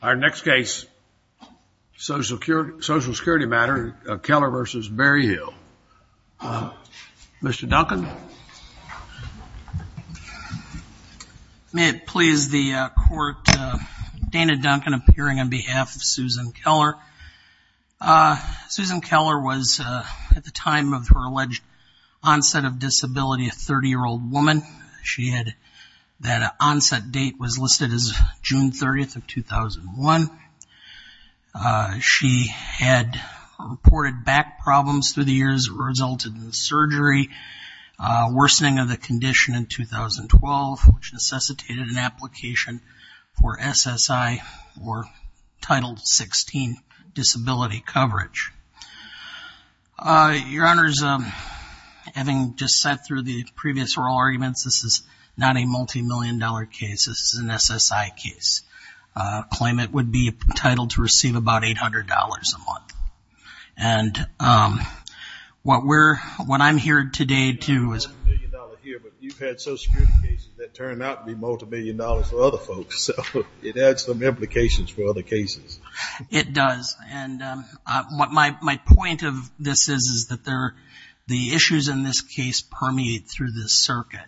Our next case, social security matter, Keller v. Berryhill. Mr. Duncan. May it please the court, Dana Duncan appearing on behalf of Susan Keller. Susan Keller was, at the time of her alleged onset of disability, a 30-year-old woman. She had, that onset date was listed as June 30th of 2001. She had reported back problems through the years that resulted in surgery, worsening of the condition in 2012, which necessitated an application for SSI or Title 16 disability coverage. Your Honors, having just sat through the previous oral arguments, this is not a multi-million dollar case. This is an SSI case. Claimant would be entitled to receive about $800 a month. And what we're, what I'm here today to, is. You've had social security cases that turn out to be multi-million dollars for other folks, so it adds some implications for other cases. It does. And what my point of this is, is that there, the issues in this case permeate through this circuit.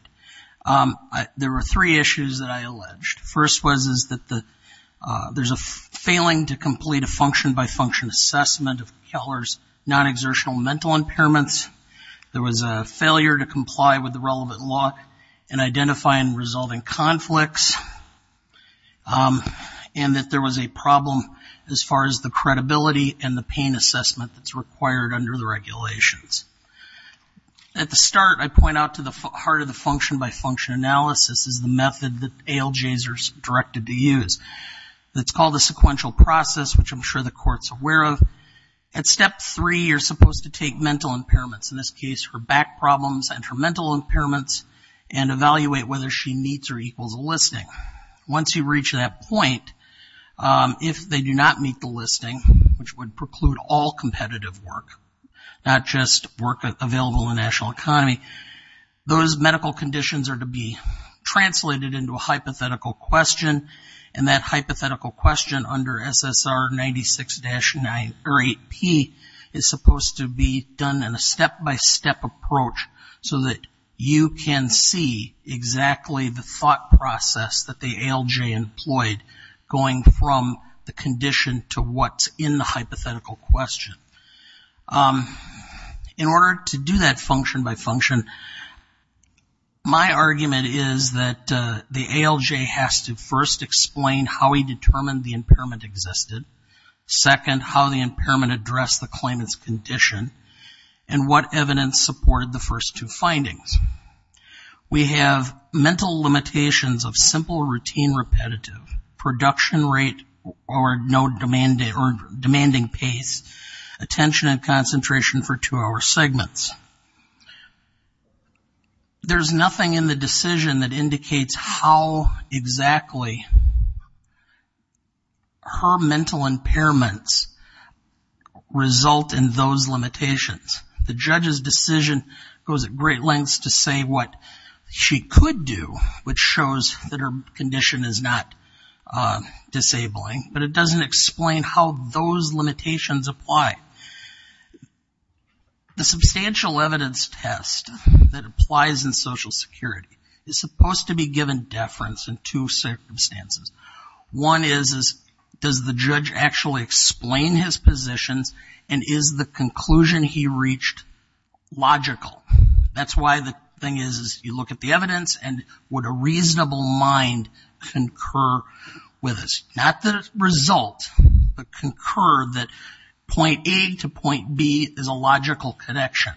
There were three issues that I alleged. First was, is that the, there's a failing to complete a function-by-function assessment of Keller's non-exertional mental impairments. There was a failure to comply with the relevant law in identifying and resolving conflicts. And that there was a problem as far as the credibility and the pain assessment that's required under the regulations. At the start, I point out to the heart of the function-by-function analysis is the method that ALJs are directed to use. It's called a sequential process, which I'm sure the Court's aware of. At step three, you're supposed to take mental impairments, in this case her back problems and her mental impairments, and evaluate whether she meets or equals a listing. Once you reach that point, if they do not meet the listing, which would preclude all competitive work, not just work available in the national economy, those medical conditions are to be translated into a hypothetical question. And that hypothetical question under SSR 96-9 or 8P is supposed to be done in a step-by-step approach so that you can see exactly the thought process that the ALJ employed going from the condition to what's in the hypothetical question. In order to do that function-by-function, my argument is that the ALJ has to first explain how he determined the impairment existed, second, how the impairment addressed the claimant's condition, and what evidence supported the first two findings. We have mental limitations of simple routine repetitive, production rate or no demanding pace, attention and concentration for two-hour segments. There's nothing in the decision that indicates how exactly her mental impairments result in those limitations. The judge's decision goes at great lengths to say what she could do, which shows that her condition is not disabling, but it doesn't explain how those limitations apply. The substantial evidence test that applies in Social Security is supposed to be given deference in two circumstances. One is, does the judge actually explain his positions and is the conclusion he reached logical? That's why the thing is, you look at the evidence and would a reasonable mind concur with us? Not the result, but concur that point A to point B is a logical connection.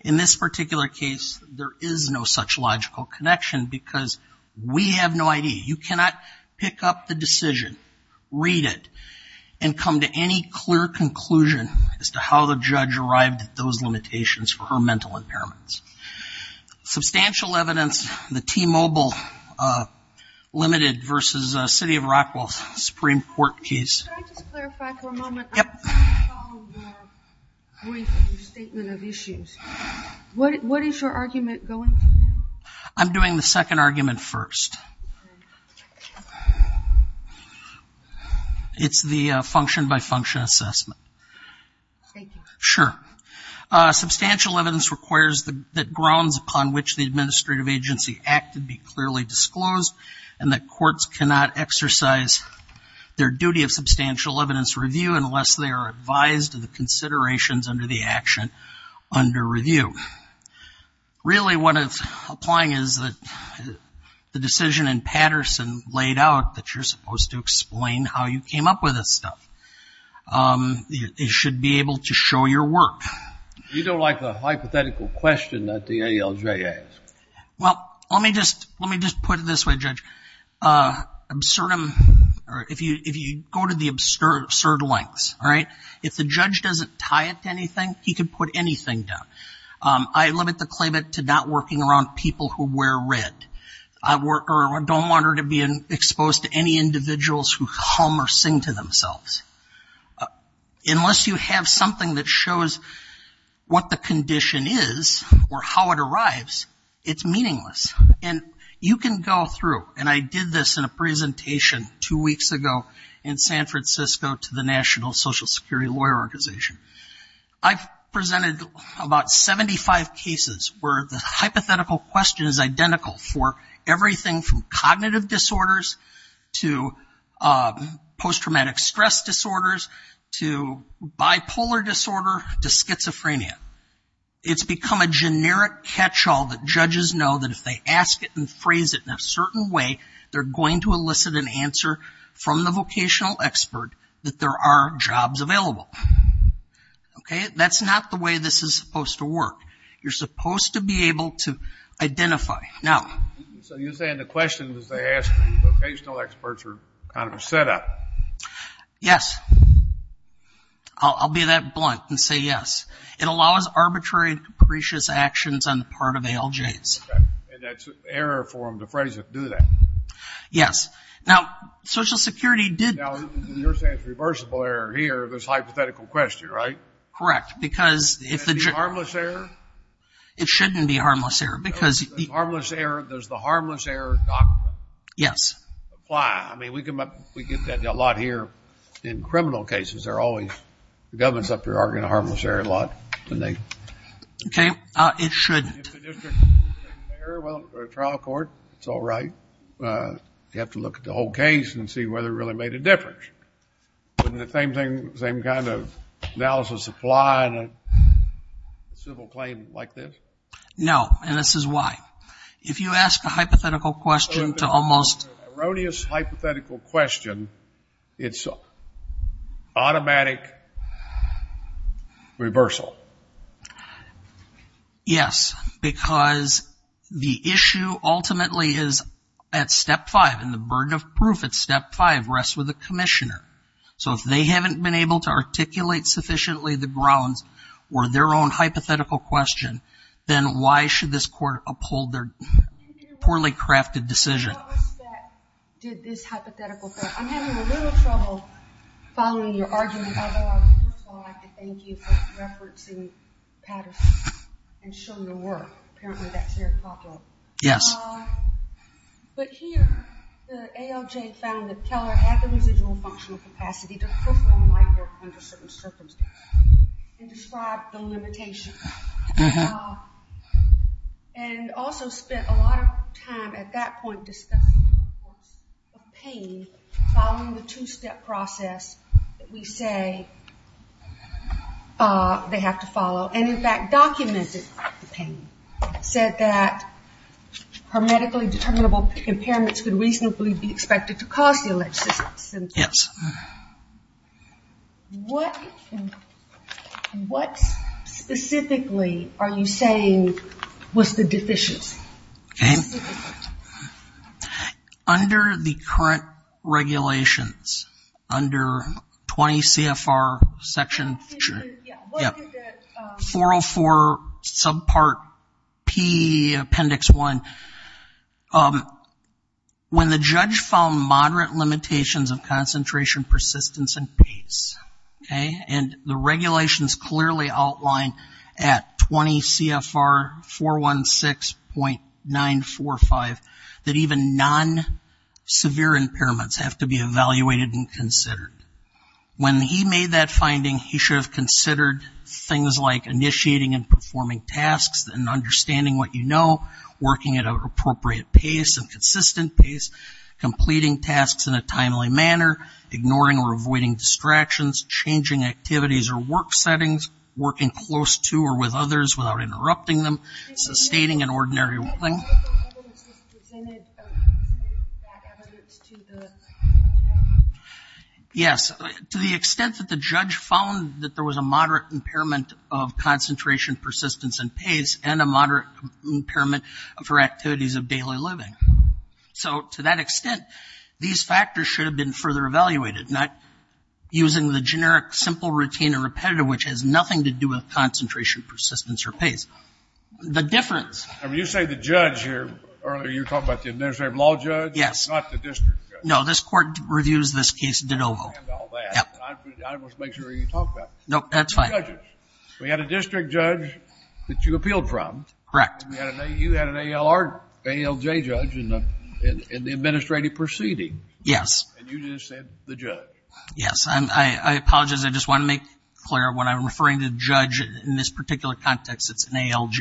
In this particular case there is no such logical connection because we have no idea. You cannot pick up the decision, read it, and come to any clear conclusion as to how the judge arrived at those limitations for her mental impairments. Substantial evidence, the T-Mobile limited versus City of Rockwell Supreme Court case. Should I just clarify for a moment? I'm trying to follow your brief and your statement of issues. What is your argument going to be? I'm doing the second argument first. It's the function-by-function assessment. Thank you. Sure. Substantial evidence requires that grounds upon which the administrative agency acted be clearly disclosed and that courts cannot exercise their duty of substantial evidence review unless they are advised of the considerations under the action under review. Really what it's applying is that the decision in Patterson laid out that you're supposed to explain how you came up with this stuff. You should be able to show your work. You don't like the hypothetical question that the ALJ asked. Well, let me just put it this way, Judge. If you go to the absurd lengths, all right, if the judge doesn't tie it to anything, he could put anything down. I limit the claimant to not working around people who wear red. I don't want her to be exposed to any individuals who hum or sing to themselves. Unless you have something that shows what the condition is or how it arrives, it's meaningless. And you can go through, and I did this in a presentation two weeks ago in San Francisco to the National Social Security Lawyer Organization. I presented about 75 cases where the hypothetical question is identical for everything from cognitive disorders to post-traumatic stress disorders to bipolar disorder to schizophrenia. It's become a generic catch-all that judges know that if they ask it and phrase it in a certain way, they're going to elicit an answer from the vocational expert that there are jobs available. Okay? That's not the way this is supposed to work. You're supposed to be able to identify. Now... So you're saying the questions they ask the vocational experts are kind of a setup? Yes. I'll be that blunt and say yes. It allows arbitrary and capricious actions on the part of ALJs. And that's error for them to phrase it, do they? Yes. Now, Social Security did... Now, you're saying it's reversible error here, this hypothetical question, right? Correct. Because... Is it harmless error? It shouldn't be harmless error because... Does the harmless error doctrine... Yes. ...apply? I mean, we get that a lot here in criminal cases. They're always... The governments up here are going to harmless error a lot. Okay. It shouldn't. If the district is a trial court, it's all right. You have to look at the whole case and see whether it really made a difference. Wouldn't the same kind of analysis apply in a civil claim like this? No. And this is why. If you ask a hypothetical question to almost... An erroneous hypothetical question, it's automatic reversal. Yes. Because the issue ultimately is at Step 5. And the burden of proof at Step 5 rests with the commissioner. So if they haven't been able to articulate sufficiently the grounds or their own hypothetical question, then why should this court uphold their poorly crafted decision? ...did this hypothetical... I'm having a little trouble following your argument. Although I would first like to thank you for referencing Patterson and showing the work. Apparently that's very popular. Yes. But here, the ALJ found that Keller had the residual functional capacity to perform light work under certain circumstances and described the limitations. And also spent a lot of time at that point discussing the importance of pain following the two-step process that we say they have to follow. And in fact documented the pain. Said that her medically determinable impairments could reasonably be expected to cause the alleged symptoms. Yes. What specifically are you saying was the deficiency? Okay. Under the current regulations, under 20 CFR section 404 subpart P appendix 1. When the judge found moderate limitations of concentration, persistence, and pace. Okay. And the regulations clearly outline at 20 CFR 416.945 that even non-severe impairments have to be evaluated and considered. When he made that finding, he should have considered things like initiating and performing tasks and understanding what you know, working at an appropriate pace and consistent pace, completing tasks in a timely manner, ignoring or avoiding distractions, changing activities or work settings, working close to or with others without interrupting them, sustaining an ordinary working. Yes. To the extent that the judge found that there was a moderate impairment of concentration, persistence, and pace and a moderate impairment for activities of daily living. So to that extent, these factors should have been further evaluated, not using the generic simple routine or repetitive, which has nothing to do with concentration, persistence, or pace. The difference. I mean, you say the judge here, earlier you were talking about the administrative law judge. Yes. Not the district judge. No, this court reviews this case de novo. I understand all that, but I want to make sure you talk about it. Nope, that's fine. The judges. We had a district judge that you appealed from. Correct. You had an ALJ judge in the administrative proceeding. Yes. And you just said the judge. Yes. I apologize. I just want to make clear when I'm referring to the judge in this particular context, it's an ALJ.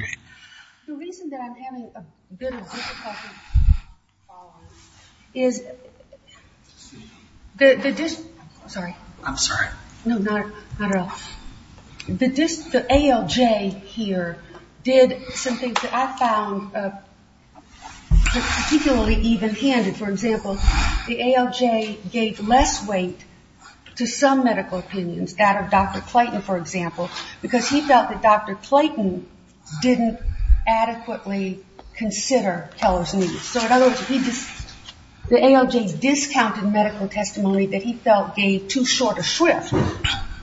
The reason that I'm having a bit of difficulty following this is, the ALJ here did something that I found particularly even-handed. For example, the ALJ gave less weight to some medical opinions, that of Dr. Clayton, for example, because he felt that Dr. Clayton didn't adequately consider Keller's needs. So in other words, the ALJ discounted medical testimony that he felt gave too short a shrift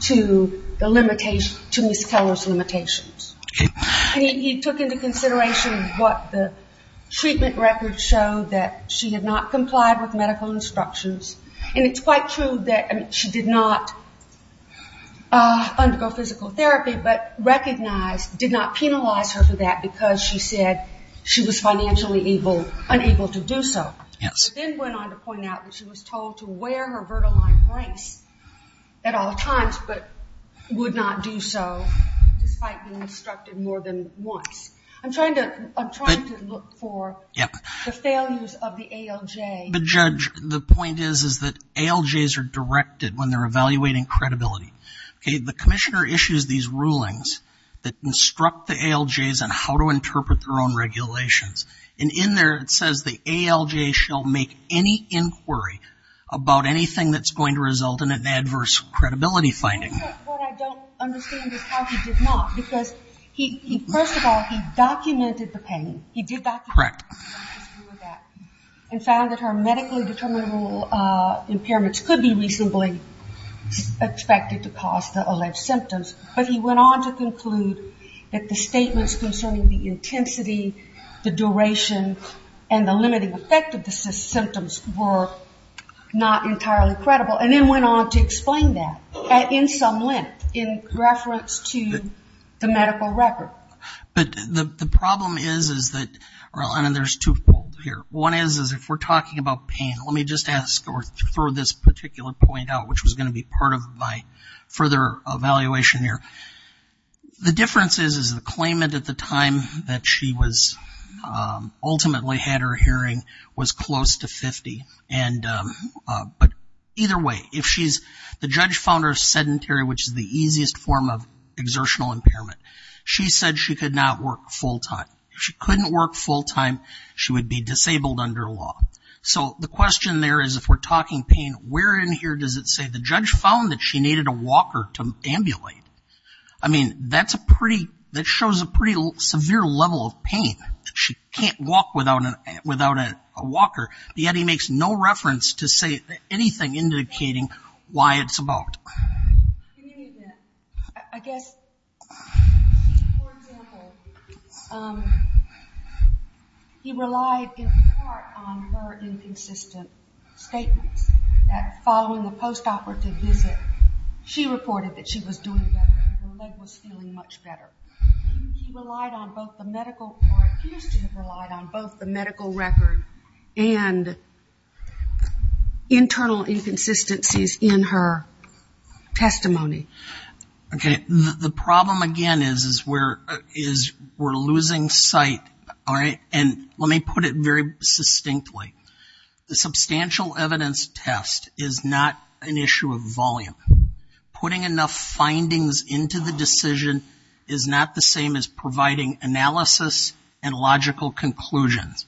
to Ms. Keller's limitations. And he took into consideration what the treatment records showed that she had not complied with medical instructions. And it's quite true that she did not undergo physical therapy, but recognized, did not penalize her for that because she said she was financially unable to do so. Yes. But then went on to point out that she was told to wear her bertal line brace at all times, and was instructed more than once. I'm trying to look for the failures of the ALJ. But Judge, the point is that ALJs are directed when they're evaluating credibility. Okay, the commissioner issues these rulings that instruct the ALJs on how to interpret their own regulations. And in there, it says the ALJ shall make any inquiry about anything that's going to result in an adverse credibility finding. What I don't understand is how he did not. Because first of all, he documented the pain. He did document the pain, and found that her medically determinable impairments could be reasonably expected to cause the ALJ symptoms. But he went on to conclude that the statements concerning the intensity, the duration, and the limiting effect of the symptoms were not entirely credible, and then went on to explain that in some length in reference to the medical record. But the problem is, is that, and there's twofold here. One is, is if we're talking about pain, let me just ask, or throw this particular point out, which was going to be part of my further evaluation here. The difference is, is the claimant at the time that she was ultimately had her hearing was close to 50. And, but either way, if she's, the judge found her sedentary, which is the easiest form of exertional impairment. She said she could not work full time. If she couldn't work full time, she would be disabled under law. So the question there is, if we're talking pain, where in here does it say the judge found that she needed a walker to ambulate? I mean, that's a pretty, that shows a pretty severe level of pain. She can't walk without a walker. Yet, he makes no reference to say anything indicating why it's about. I guess, for example, he relied in part on her inconsistent statements that following the post-operative visit, she reported that she was doing better and her leg was feeling much better. He relied on both the medical, or appears to have relied on both the medical record and internal inconsistencies in her testimony. Okay. The problem again is, is where, is we're losing sight. All right. And let me put it very succinctly. The substantial evidence test is not an issue of volume. Putting enough findings into the decision is not the same as providing analysis and logical conclusions.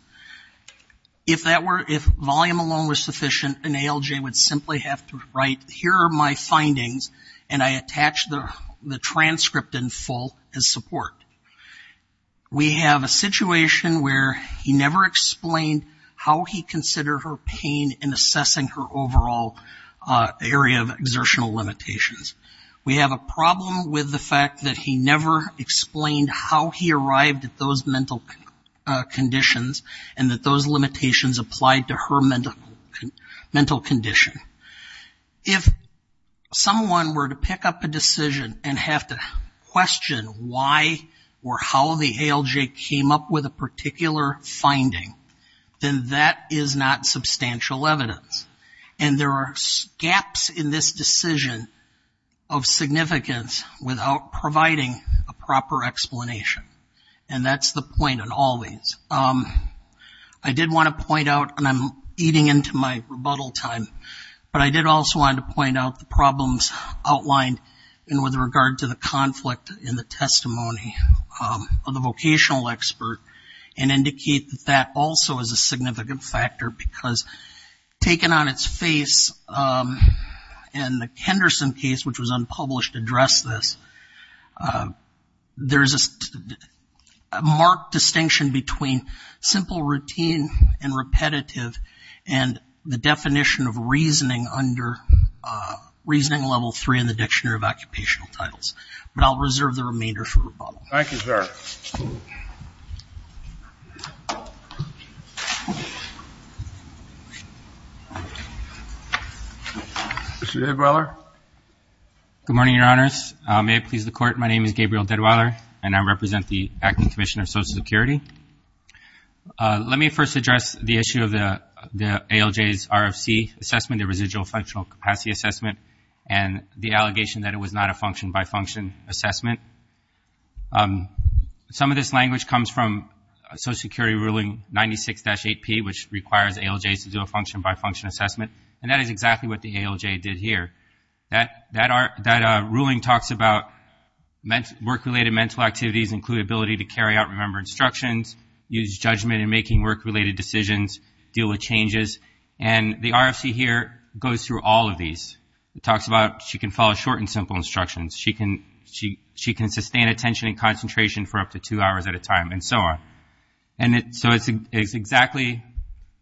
If that were, if volume alone was sufficient, an ALJ would simply have to write, here are my findings, and I attach the transcript in full as support. We have a situation where he never explained how he considered her pain in assessing her area of exertional limitations. We have a problem with the fact that he never explained how he arrived at those mental conditions and that those limitations applied to her mental condition. If someone were to pick up a decision and have to question why or how the ALJ came up with a particular finding, then that is not substantial evidence. And there are gaps in this decision of significance without providing a proper explanation. And that's the point in all these. I did want to point out, and I'm eating into my rebuttal time, but I did also want to point out the problems outlined with regard to the conflict in the testimony of the vocational expert and indicate that that also is a significant factor because taken on its face, in the Kenderson case, which was unpublished, addressed this. There's a marked distinction between simple routine and repetitive and the definition of reasoning under reasoning level three in the Dictionary of Occupational Titles. But I'll reserve the remainder for rebuttal. Thank you, sir. Mr. Deadweller? Good morning, Your Honors. May it please the Court, my name is Gabriel Deadweller, and I represent the Acting Commissioner of Social Security. Let me first address the issue of the ALJ's RFC assessment, the residual functional capacity assessment, and the allegation that it was not a function-by-function assessment. Some of this language comes from Social Security Ruling 96-8P, which requires ALJs to do a function-by-function assessment, and that is exactly what the ALJ did here. That ruling talks about work-related mental activities include ability to carry out remembered instructions, use judgment in making work-related decisions, deal with changes. The RFC here goes through all of these. It talks about she can follow short and simple instructions. She can sustain attention and concentration for up to two hours at a time, and so on. So it's exactly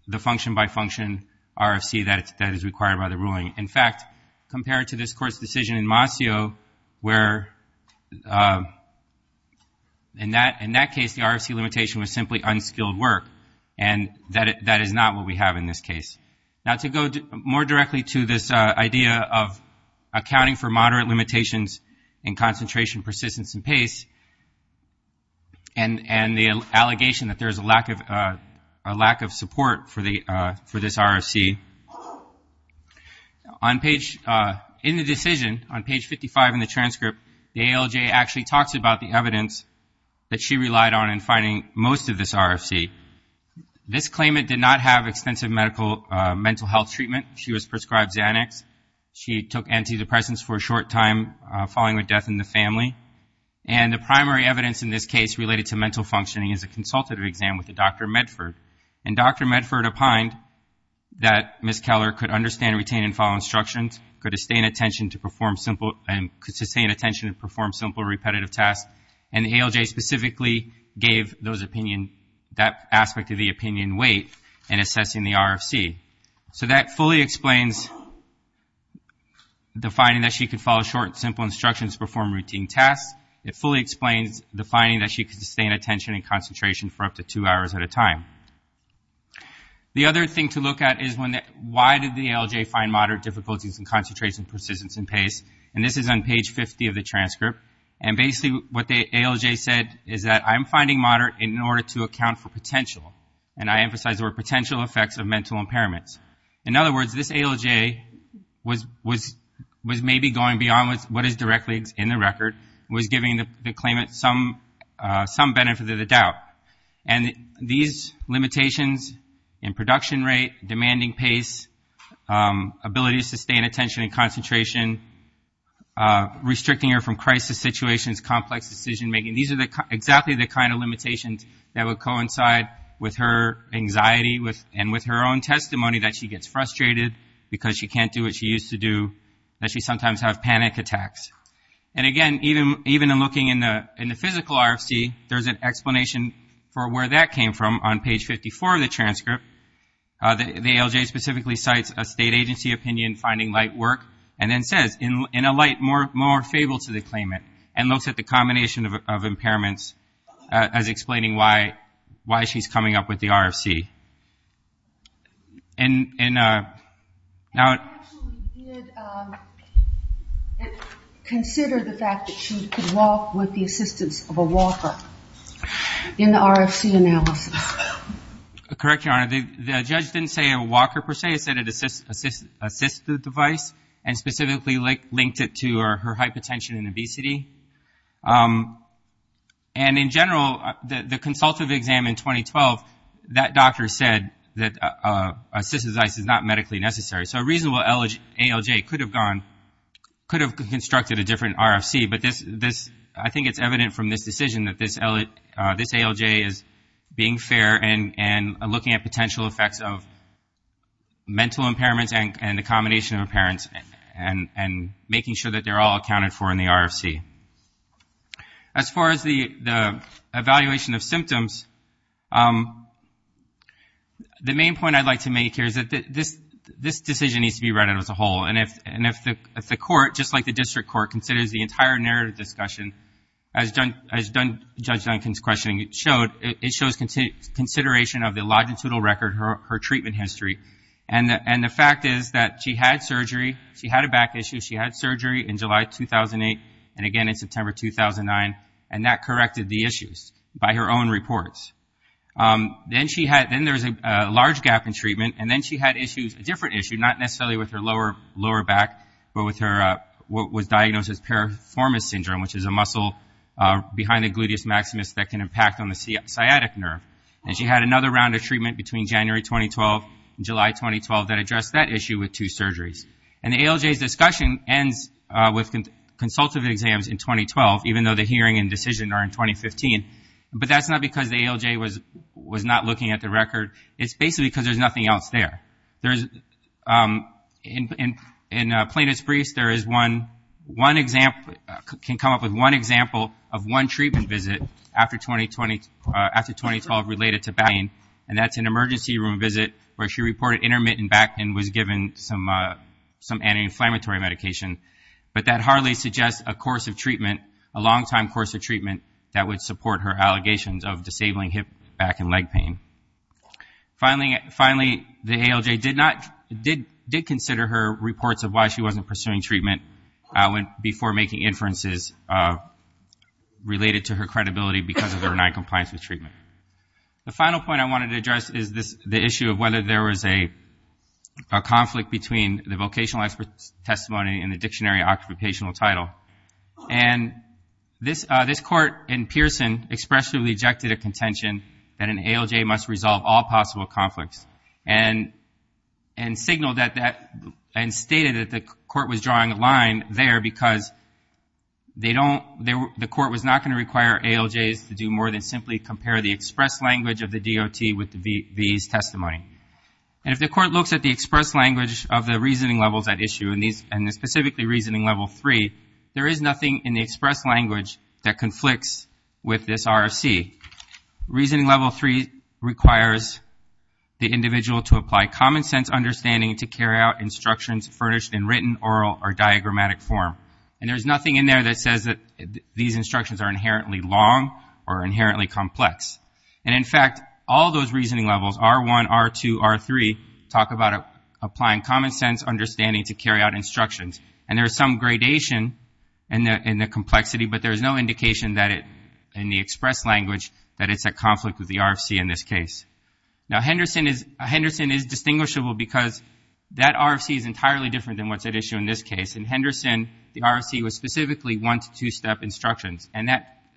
the function-by-function RFC that is required by the ruling. In fact, compared to this Court's decision in Mossio, where in that case, the RFC limitation was simply unskilled work, and that is not what we have in this case. Now, to go more directly to this idea of accounting for moderate limitations in concentration, persistence, and pace, and the allegation that there is a lack of support for this RFC, in the decision, on page 55 in the transcript, the ALJ actually talks about the evidence that she relied on in finding most of this RFC. This claimant did not have extensive mental health treatment. She was prescribed Xanax. She took antidepressants for a short time following her death in the family. And the primary evidence in this case related to mental functioning is a consultative exam with Dr. Medford. And Dr. Medford opined that Ms. Keller could understand, retain, and follow instructions, could sustain attention to perform simple repetitive tasks, and the ALJ specifically gave that aspect of the opinion weight in assessing the RFC. So that fully explains the finding that she could follow short, simple instructions, perform routine tasks. It fully explains the finding that she could sustain attention and concentration for up to two hours at a time. The other thing to look at is why did the ALJ find moderate difficulties in concentration, persistence, and pace? And this is on page 50 of the transcript. And basically what the ALJ said is that I'm finding moderate in order to account for potential. And I emphasize the word potential effects of mental impairments. In other words, this ALJ was maybe going beyond what is directly in the record, was giving the claimant some benefit of the doubt. And these limitations in production rate, demanding pace, ability to sustain attention and concentration, restricting her from crisis situations, complex decision making, these are exactly the kind of limitations that would coincide with her anxiety and with her own testimony that she gets frustrated because she can't do what she used to do, that she sometimes has panic attacks. And again, even in looking in the physical RFC, there's an explanation for where that came from on page 54 of the transcript. The ALJ specifically cites a state agency opinion, finding light work, and then says, in a light, more fable to the claimant, and looks at the combination of impairments as explaining why she's coming up with the RFC. And now... I actually did consider the fact that she could walk with the assistance of a walker in the RFC analysis. Correct, Your Honor. The judge didn't say a walker, per se. He said an assistive device, and specifically linked it to her hypotension and obesity. And in general, the consultative exam in 2012, that doctor said that assistive device is not medically necessary. So a reasonable ALJ could have gone, could have constructed a different RFC. I think it's evident from this decision that this ALJ is being fair and looking at potential effects of mental impairments and the combination of impairments, and making sure that they're all accounted for in the RFC. As far as the evaluation of symptoms, the main point I'd like to make here is that this decision needs to be read as a whole. And if the court, just like the district court, considers the entire narrative discussion, as Judge Duncan's questioning showed, it shows consideration of the longitudinal record, her treatment history. And the fact is that she had surgery. She had a back issue. She had surgery in July 2008, and again in September 2009. And that corrected the issues by her own reports. Then there's a large gap in treatment. And then she had issues, a different issue, not necessarily with her lower back, but with her, what was diagnosed as piriformis syndrome, which is a muscle behind the gluteus maximus that can impact on the sciatic nerve. And she had another round of treatment between January 2012 and July 2012 that addressed that issue with two surgeries. And the ALJ's discussion ends with consultative exams in 2012, even though the hearing and decision are in 2015. But that's not because the ALJ was not looking at the record. It's basically because there's nothing else there. In plaintiff's briefs, there is one example, can come up with one example of one treatment visit after 2012 related to back pain. And that's an emergency room visit where she reported intermittent back pain and was given some anti-inflammatory medication. But that hardly suggests a course of treatment, a long-time course of treatment, that would support her allegations of disabling hip, back, and leg pain. Finally, the ALJ did consider her reports of why she wasn't pursuing treatment before making inferences related to her credibility because of her non-compliance with treatment. The final point I wanted to address is the issue of whether there was a conflict between the vocational expert's testimony and the dictionary occupational title. And this court in Pearson expressly rejected a contention that an ALJ must resolve all conflicts and stated that the court was drawing a line there because the court was not going to require ALJs to do more than simply compare the express language of the DOT with the V's testimony. And if the court looks at the express language of the reasoning levels at issue, and specifically reasoning level three, there is nothing in the express language that conflicts with this RFC. Reasoning level three requires the individual to apply common sense understanding to carry out instructions furnished in written, oral, or diagrammatic form. And there's nothing in there that says that these instructions are inherently long or inherently complex. And in fact, all those reasoning levels, R1, R2, R3, talk about applying common sense understanding to carry out instructions. And there's some gradation in the complexity, but there's no indication that in the express language that it's at conflict with the RFC in this case. Now, Henderson is distinguishable because that RFC is entirely different than what's at issue in this case. In Henderson, the RFC was specifically one to two step instructions. And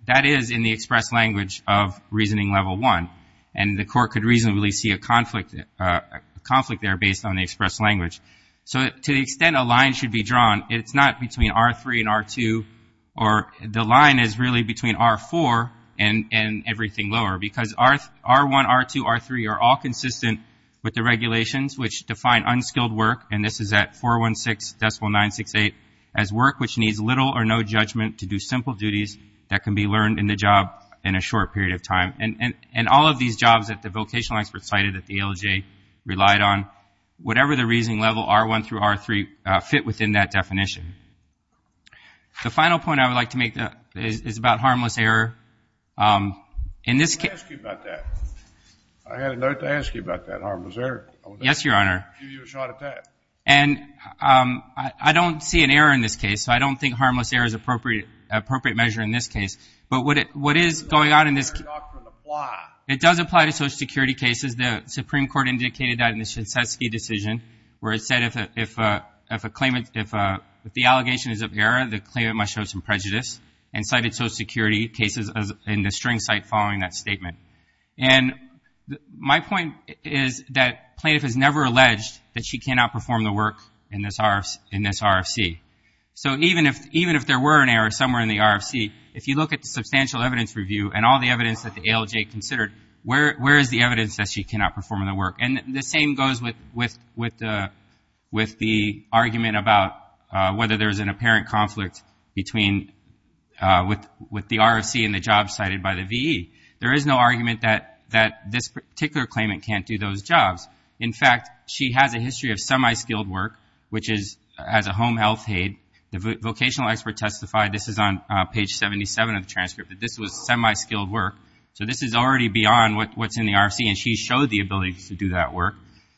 that is in the express language of reasoning level one. And the court could reasonably see a conflict there based on the express language. So to the extent a line should be drawn, it's not between R3 and R2, or the line is really between R4 and everything lower. Because R1, R2, R3 are all consistent with the regulations which define unskilled work, and this is at 416.968, as work which needs little or no judgment to do simple duties that can be learned in the job in a short period of time. And all of these jobs that the vocational experts cited at the ALJ relied on, whatever the reasoning level R1 through R3 fit within that definition. The final point I would like to make is about harmless error. I had a note to ask you about that, harmless error. Yes, Your Honor. I'll give you a shot at that. And I don't see an error in this case. So I don't think harmless error is an appropriate measure in this case. But what is going on in this case, it does apply to Social Security cases. The Supreme Court indicated that in the Shinseki decision, where it said if a claimant, if the allegation is of error, the claimant must show some prejudice, and cited Social Security cases in the string site following that statement. And my point is that plaintiff has never alleged that she cannot perform the work in this RFC. So even if there were an error somewhere in the RFC, if you look at the substantial evidence review and all the evidence that the ALJ considered, where is the evidence that she cannot perform in the work? And the same goes with the argument about whether there's an apparent conflict between with the RFC and the job cited by the VE. There is no argument that this particular claimant can't do those jobs. In fact, she has a history of semi-skilled work, which is as a home health aide. The vocational expert testified, this is on page 77 of the transcript, that this was semi-skilled work. So this is already beyond what's in the RFC, and she showed the ability to do that work.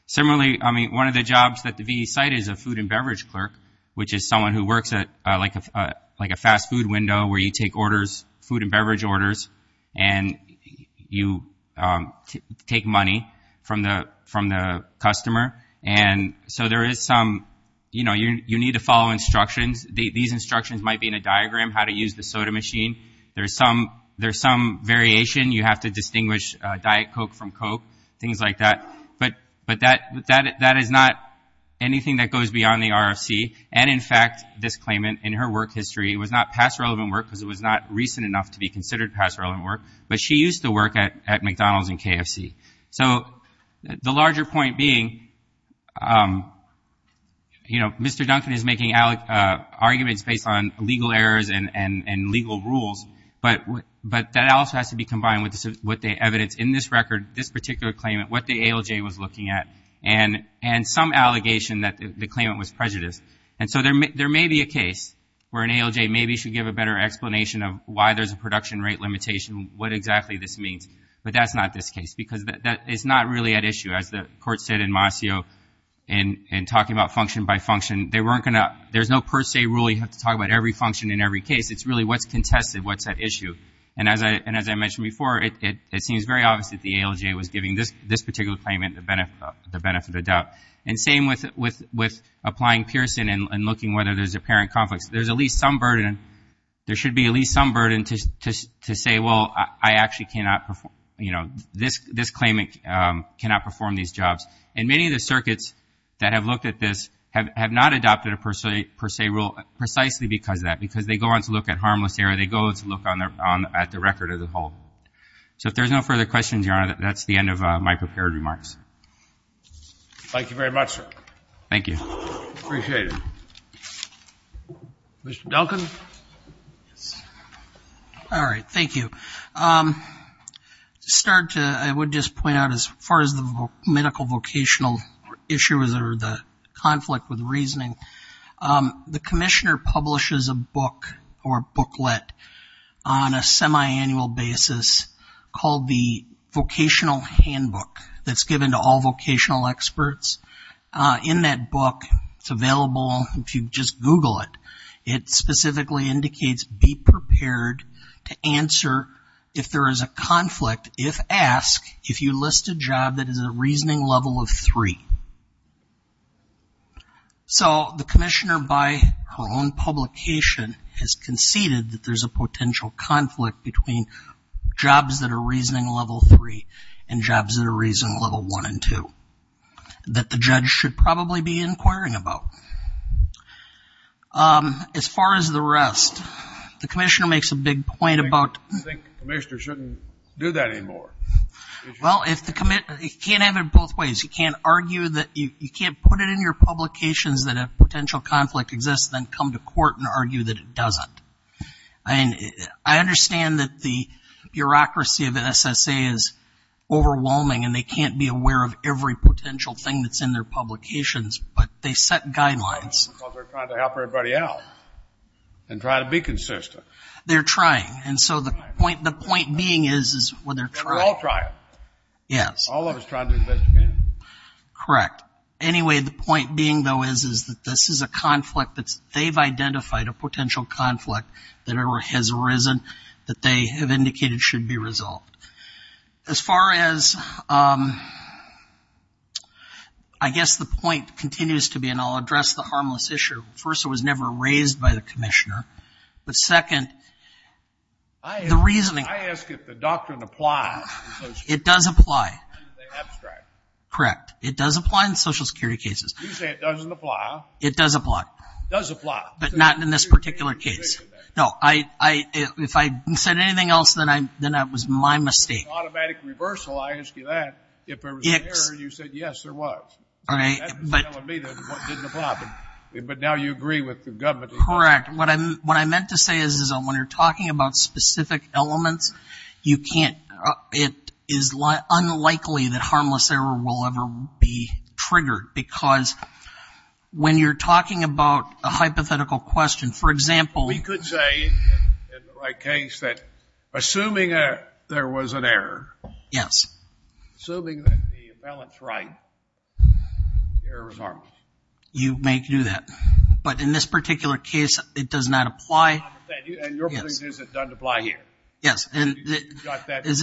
Similarly, I mean, one of the jobs that the VE cited is a food and beverage clerk, which is someone who works at like a fast food window where you take orders, food and beverage orders, and you take money from the customer. And so there is some, you know, you need to follow instructions. These instructions might be in a diagram, how to use the soda machine. There's some variation. You have to distinguish Diet Coke from Coke, things like that. But that is not anything that goes beyond the RFC. And in fact, this claimant, in her work history, it was not past relevant work because it was not recent enough to be considered past relevant work, but she used to work at McDonald's and KFC. So the larger point being, you know, Mr. Duncan is making arguments based on legal errors and legal rules, but that also has to be combined with what the evidence in this record, this particular claimant, what the ALJ was looking at, and some allegation that the claimant was prejudiced. And so there may be a case where an ALJ maybe should give a better explanation of why there's a production rate limitation, what exactly this means. But that's not this case, because that is not really at issue, as the court said in Mascio in talking about function by function. They weren't going to, there's no per se rule. You have to talk about every function in every case. It's really what's contested, what's at issue. And as I mentioned before, it seems very obvious that the ALJ was giving this particular claimant the benefit of the doubt. And same with applying Pearson and looking whether there's apparent conflicts. There's at least some burden, there should be at least some burden to say, well, I actually cannot perform, you know, this claimant cannot perform these jobs. And many of the circuits that have looked at this have not adopted a per se rule precisely because of that, because they go on to look at harmless error, they go on to look at the record as a whole. So if there's no further questions, Your Honor, that's the end of my prepared remarks. Thank you very much, sir. Thank you. Appreciate it. Mr. Duncan? All right, thank you. To start, I would just point out as far as the medical vocational issues or the conflict with reasoning, the commissioner publishes a book or booklet on a semiannual basis called the vocational handbook that's given to all vocational experts. In that book, it's available if you just Google it. It specifically indicates be prepared to answer if there is a conflict, if asked, if you list a job that is a reasoning level of three. So the commissioner, by her own publication, has conceded that there's a potential conflict between jobs that are reasoning level three and jobs that are reasoning level one and two that the judge should probably be inquiring about. As far as the rest, the commissioner makes a big point about... I think the commissioner shouldn't do that anymore. Well, you can't have it both ways. You can't put it in your publications that a potential conflict exists, then come to court and argue that it doesn't. I understand that the bureaucracy of an SSA is overwhelming and they can't be aware of every potential thing that's in their publications, but they set guidelines. Because they're trying to help everybody out and try to be consistent. They're trying. And so the point being is when they're trying... They're all trying. Yes. All of us trying to investigate. Correct. Anyway, the point being, though, is that this is a conflict that they've identified, a potential conflict that has arisen that they have indicated should be resolved. As far as... I guess the point continues to be, and I'll address the harmless issue. First, it was never raised by the commissioner. But second, the reasoning... I ask if the doctrine applies in social security cases. It does apply. You say abstract. Correct. It does apply in social security cases. You say it doesn't apply. It does apply. Does apply. But not in this particular case. No, if I said anything else, then that was my mistake. Automatic reversal, I ask you that. If there was an error, you said, yes, there was. All right. That's telling me that it didn't apply. But now you agree with the government. Correct. What I meant to say is when you're talking about specific elements, you can't... It is unlikely that harmless error will ever be triggered. Because when you're talking about a hypothetical question, for example... We could say, in the right case, that assuming there was an error... Yes. Assuming that the balance is right, the error is harmless. You may do that. But in this particular case, it does not apply. And your point is it doesn't apply here. Yes. As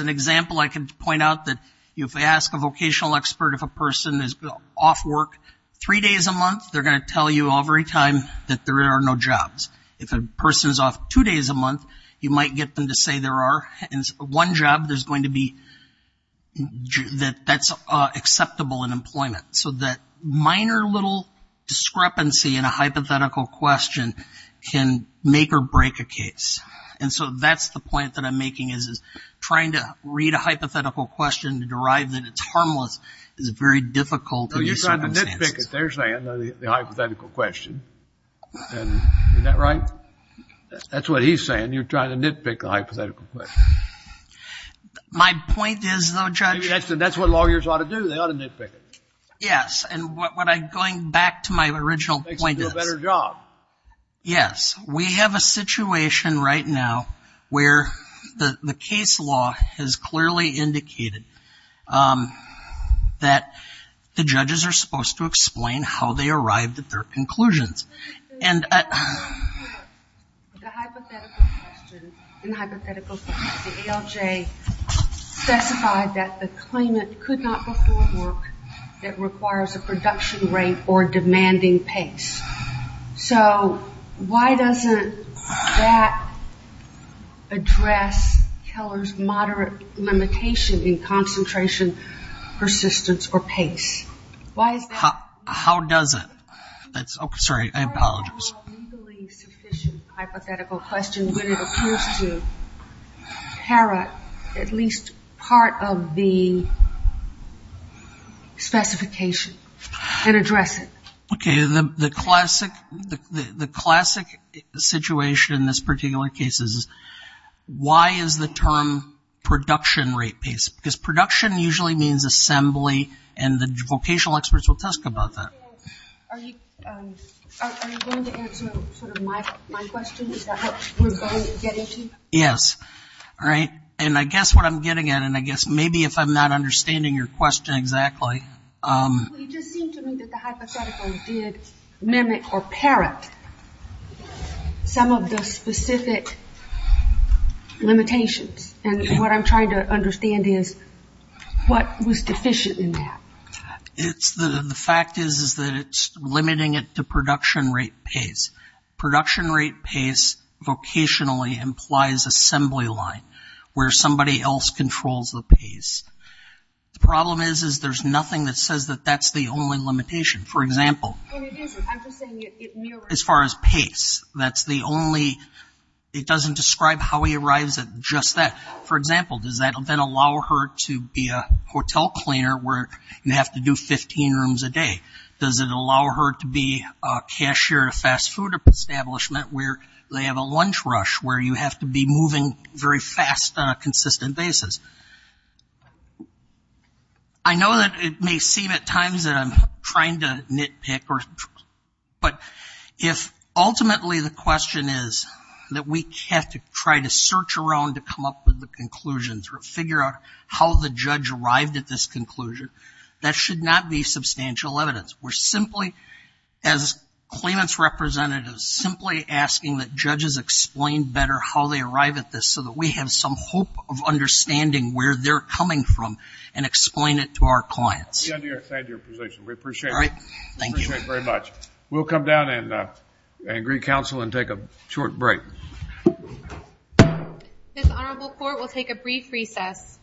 an example, I can point out that if I ask a vocational expert if a person is off work three days a month, they're going to tell you every time that there are no jobs. If a person is off two days a month, you might get them to say there are. And one job, there's going to be... That's acceptable in employment. So that minor little discrepancy in a hypothetical question can make or break a case. And so that's the point that I'm making is trying to read a hypothetical question to derive that it's harmless is very difficult. So you're trying to nitpick it. They're saying the hypothetical question. And is that right? That's what he's saying. You're trying to nitpick the hypothetical question. My point is, though, Judge... That's what lawyers ought to do. They ought to nitpick it. Yes. And what I'm going back to my original point is... Makes you do a better job. Yes. We have a situation right now where the case law has clearly indicated that the judges are supposed to explain how they arrived at their conclusions. And... The hypothetical question, in the hypothetical case, the ALJ specified that the claimant could not perform work that requires a production rate or demanding pace. So why doesn't that address Keller's moderate limitation in concentration, persistence, or pace? Why is that? How does it? That's... Okay. Sorry. I apologize. Why is that not a legally sufficient hypothetical question when it appears to parrot at least part of the specification and address it? Okay. The classic situation in this particular case is... Why is the term production rate paced? Because production usually means assembly and the vocational experts will talk about that. Are you going to answer sort of my question? Is that what we're going to get into? Yes. All right. And I guess what I'm getting at, and I guess maybe if I'm not understanding your question exactly... It just seemed to me that the hypothetical did mimic or parrot some of the specific limitations. And what I'm trying to understand is what was deficient in that? The fact is that it's limiting it to production rate pace. Production rate pace vocationally implies assembly line, where somebody else controls the pace. The problem is there's nothing that says that that's the only limitation. For example... And it isn't. I'm just saying it mirrors... As far as pace, that's the only... It doesn't describe how he arrives at just that. For example, does that then allow her to be a hotel cleaner where you have to do 15 rooms a day? Does it allow her to be a cashier at a fast food establishment where they have a lunch rush where you have to be moving very fast on a consistent basis? So I know that it may seem at times that I'm trying to nitpick, but if ultimately the question is that we have to try to search around to come up with the conclusions or figure out how the judge arrived at this conclusion, that should not be substantial evidence. We're simply, as claimants' representatives, simply asking that judges explain better how they arrive at this so that we have some hope of understanding where they're coming from and explain it to our clients. We understand your position. We appreciate it. All right. Thank you. Appreciate it very much. We'll come down and agree counsel and take a short break. This honorable court will take a brief recess.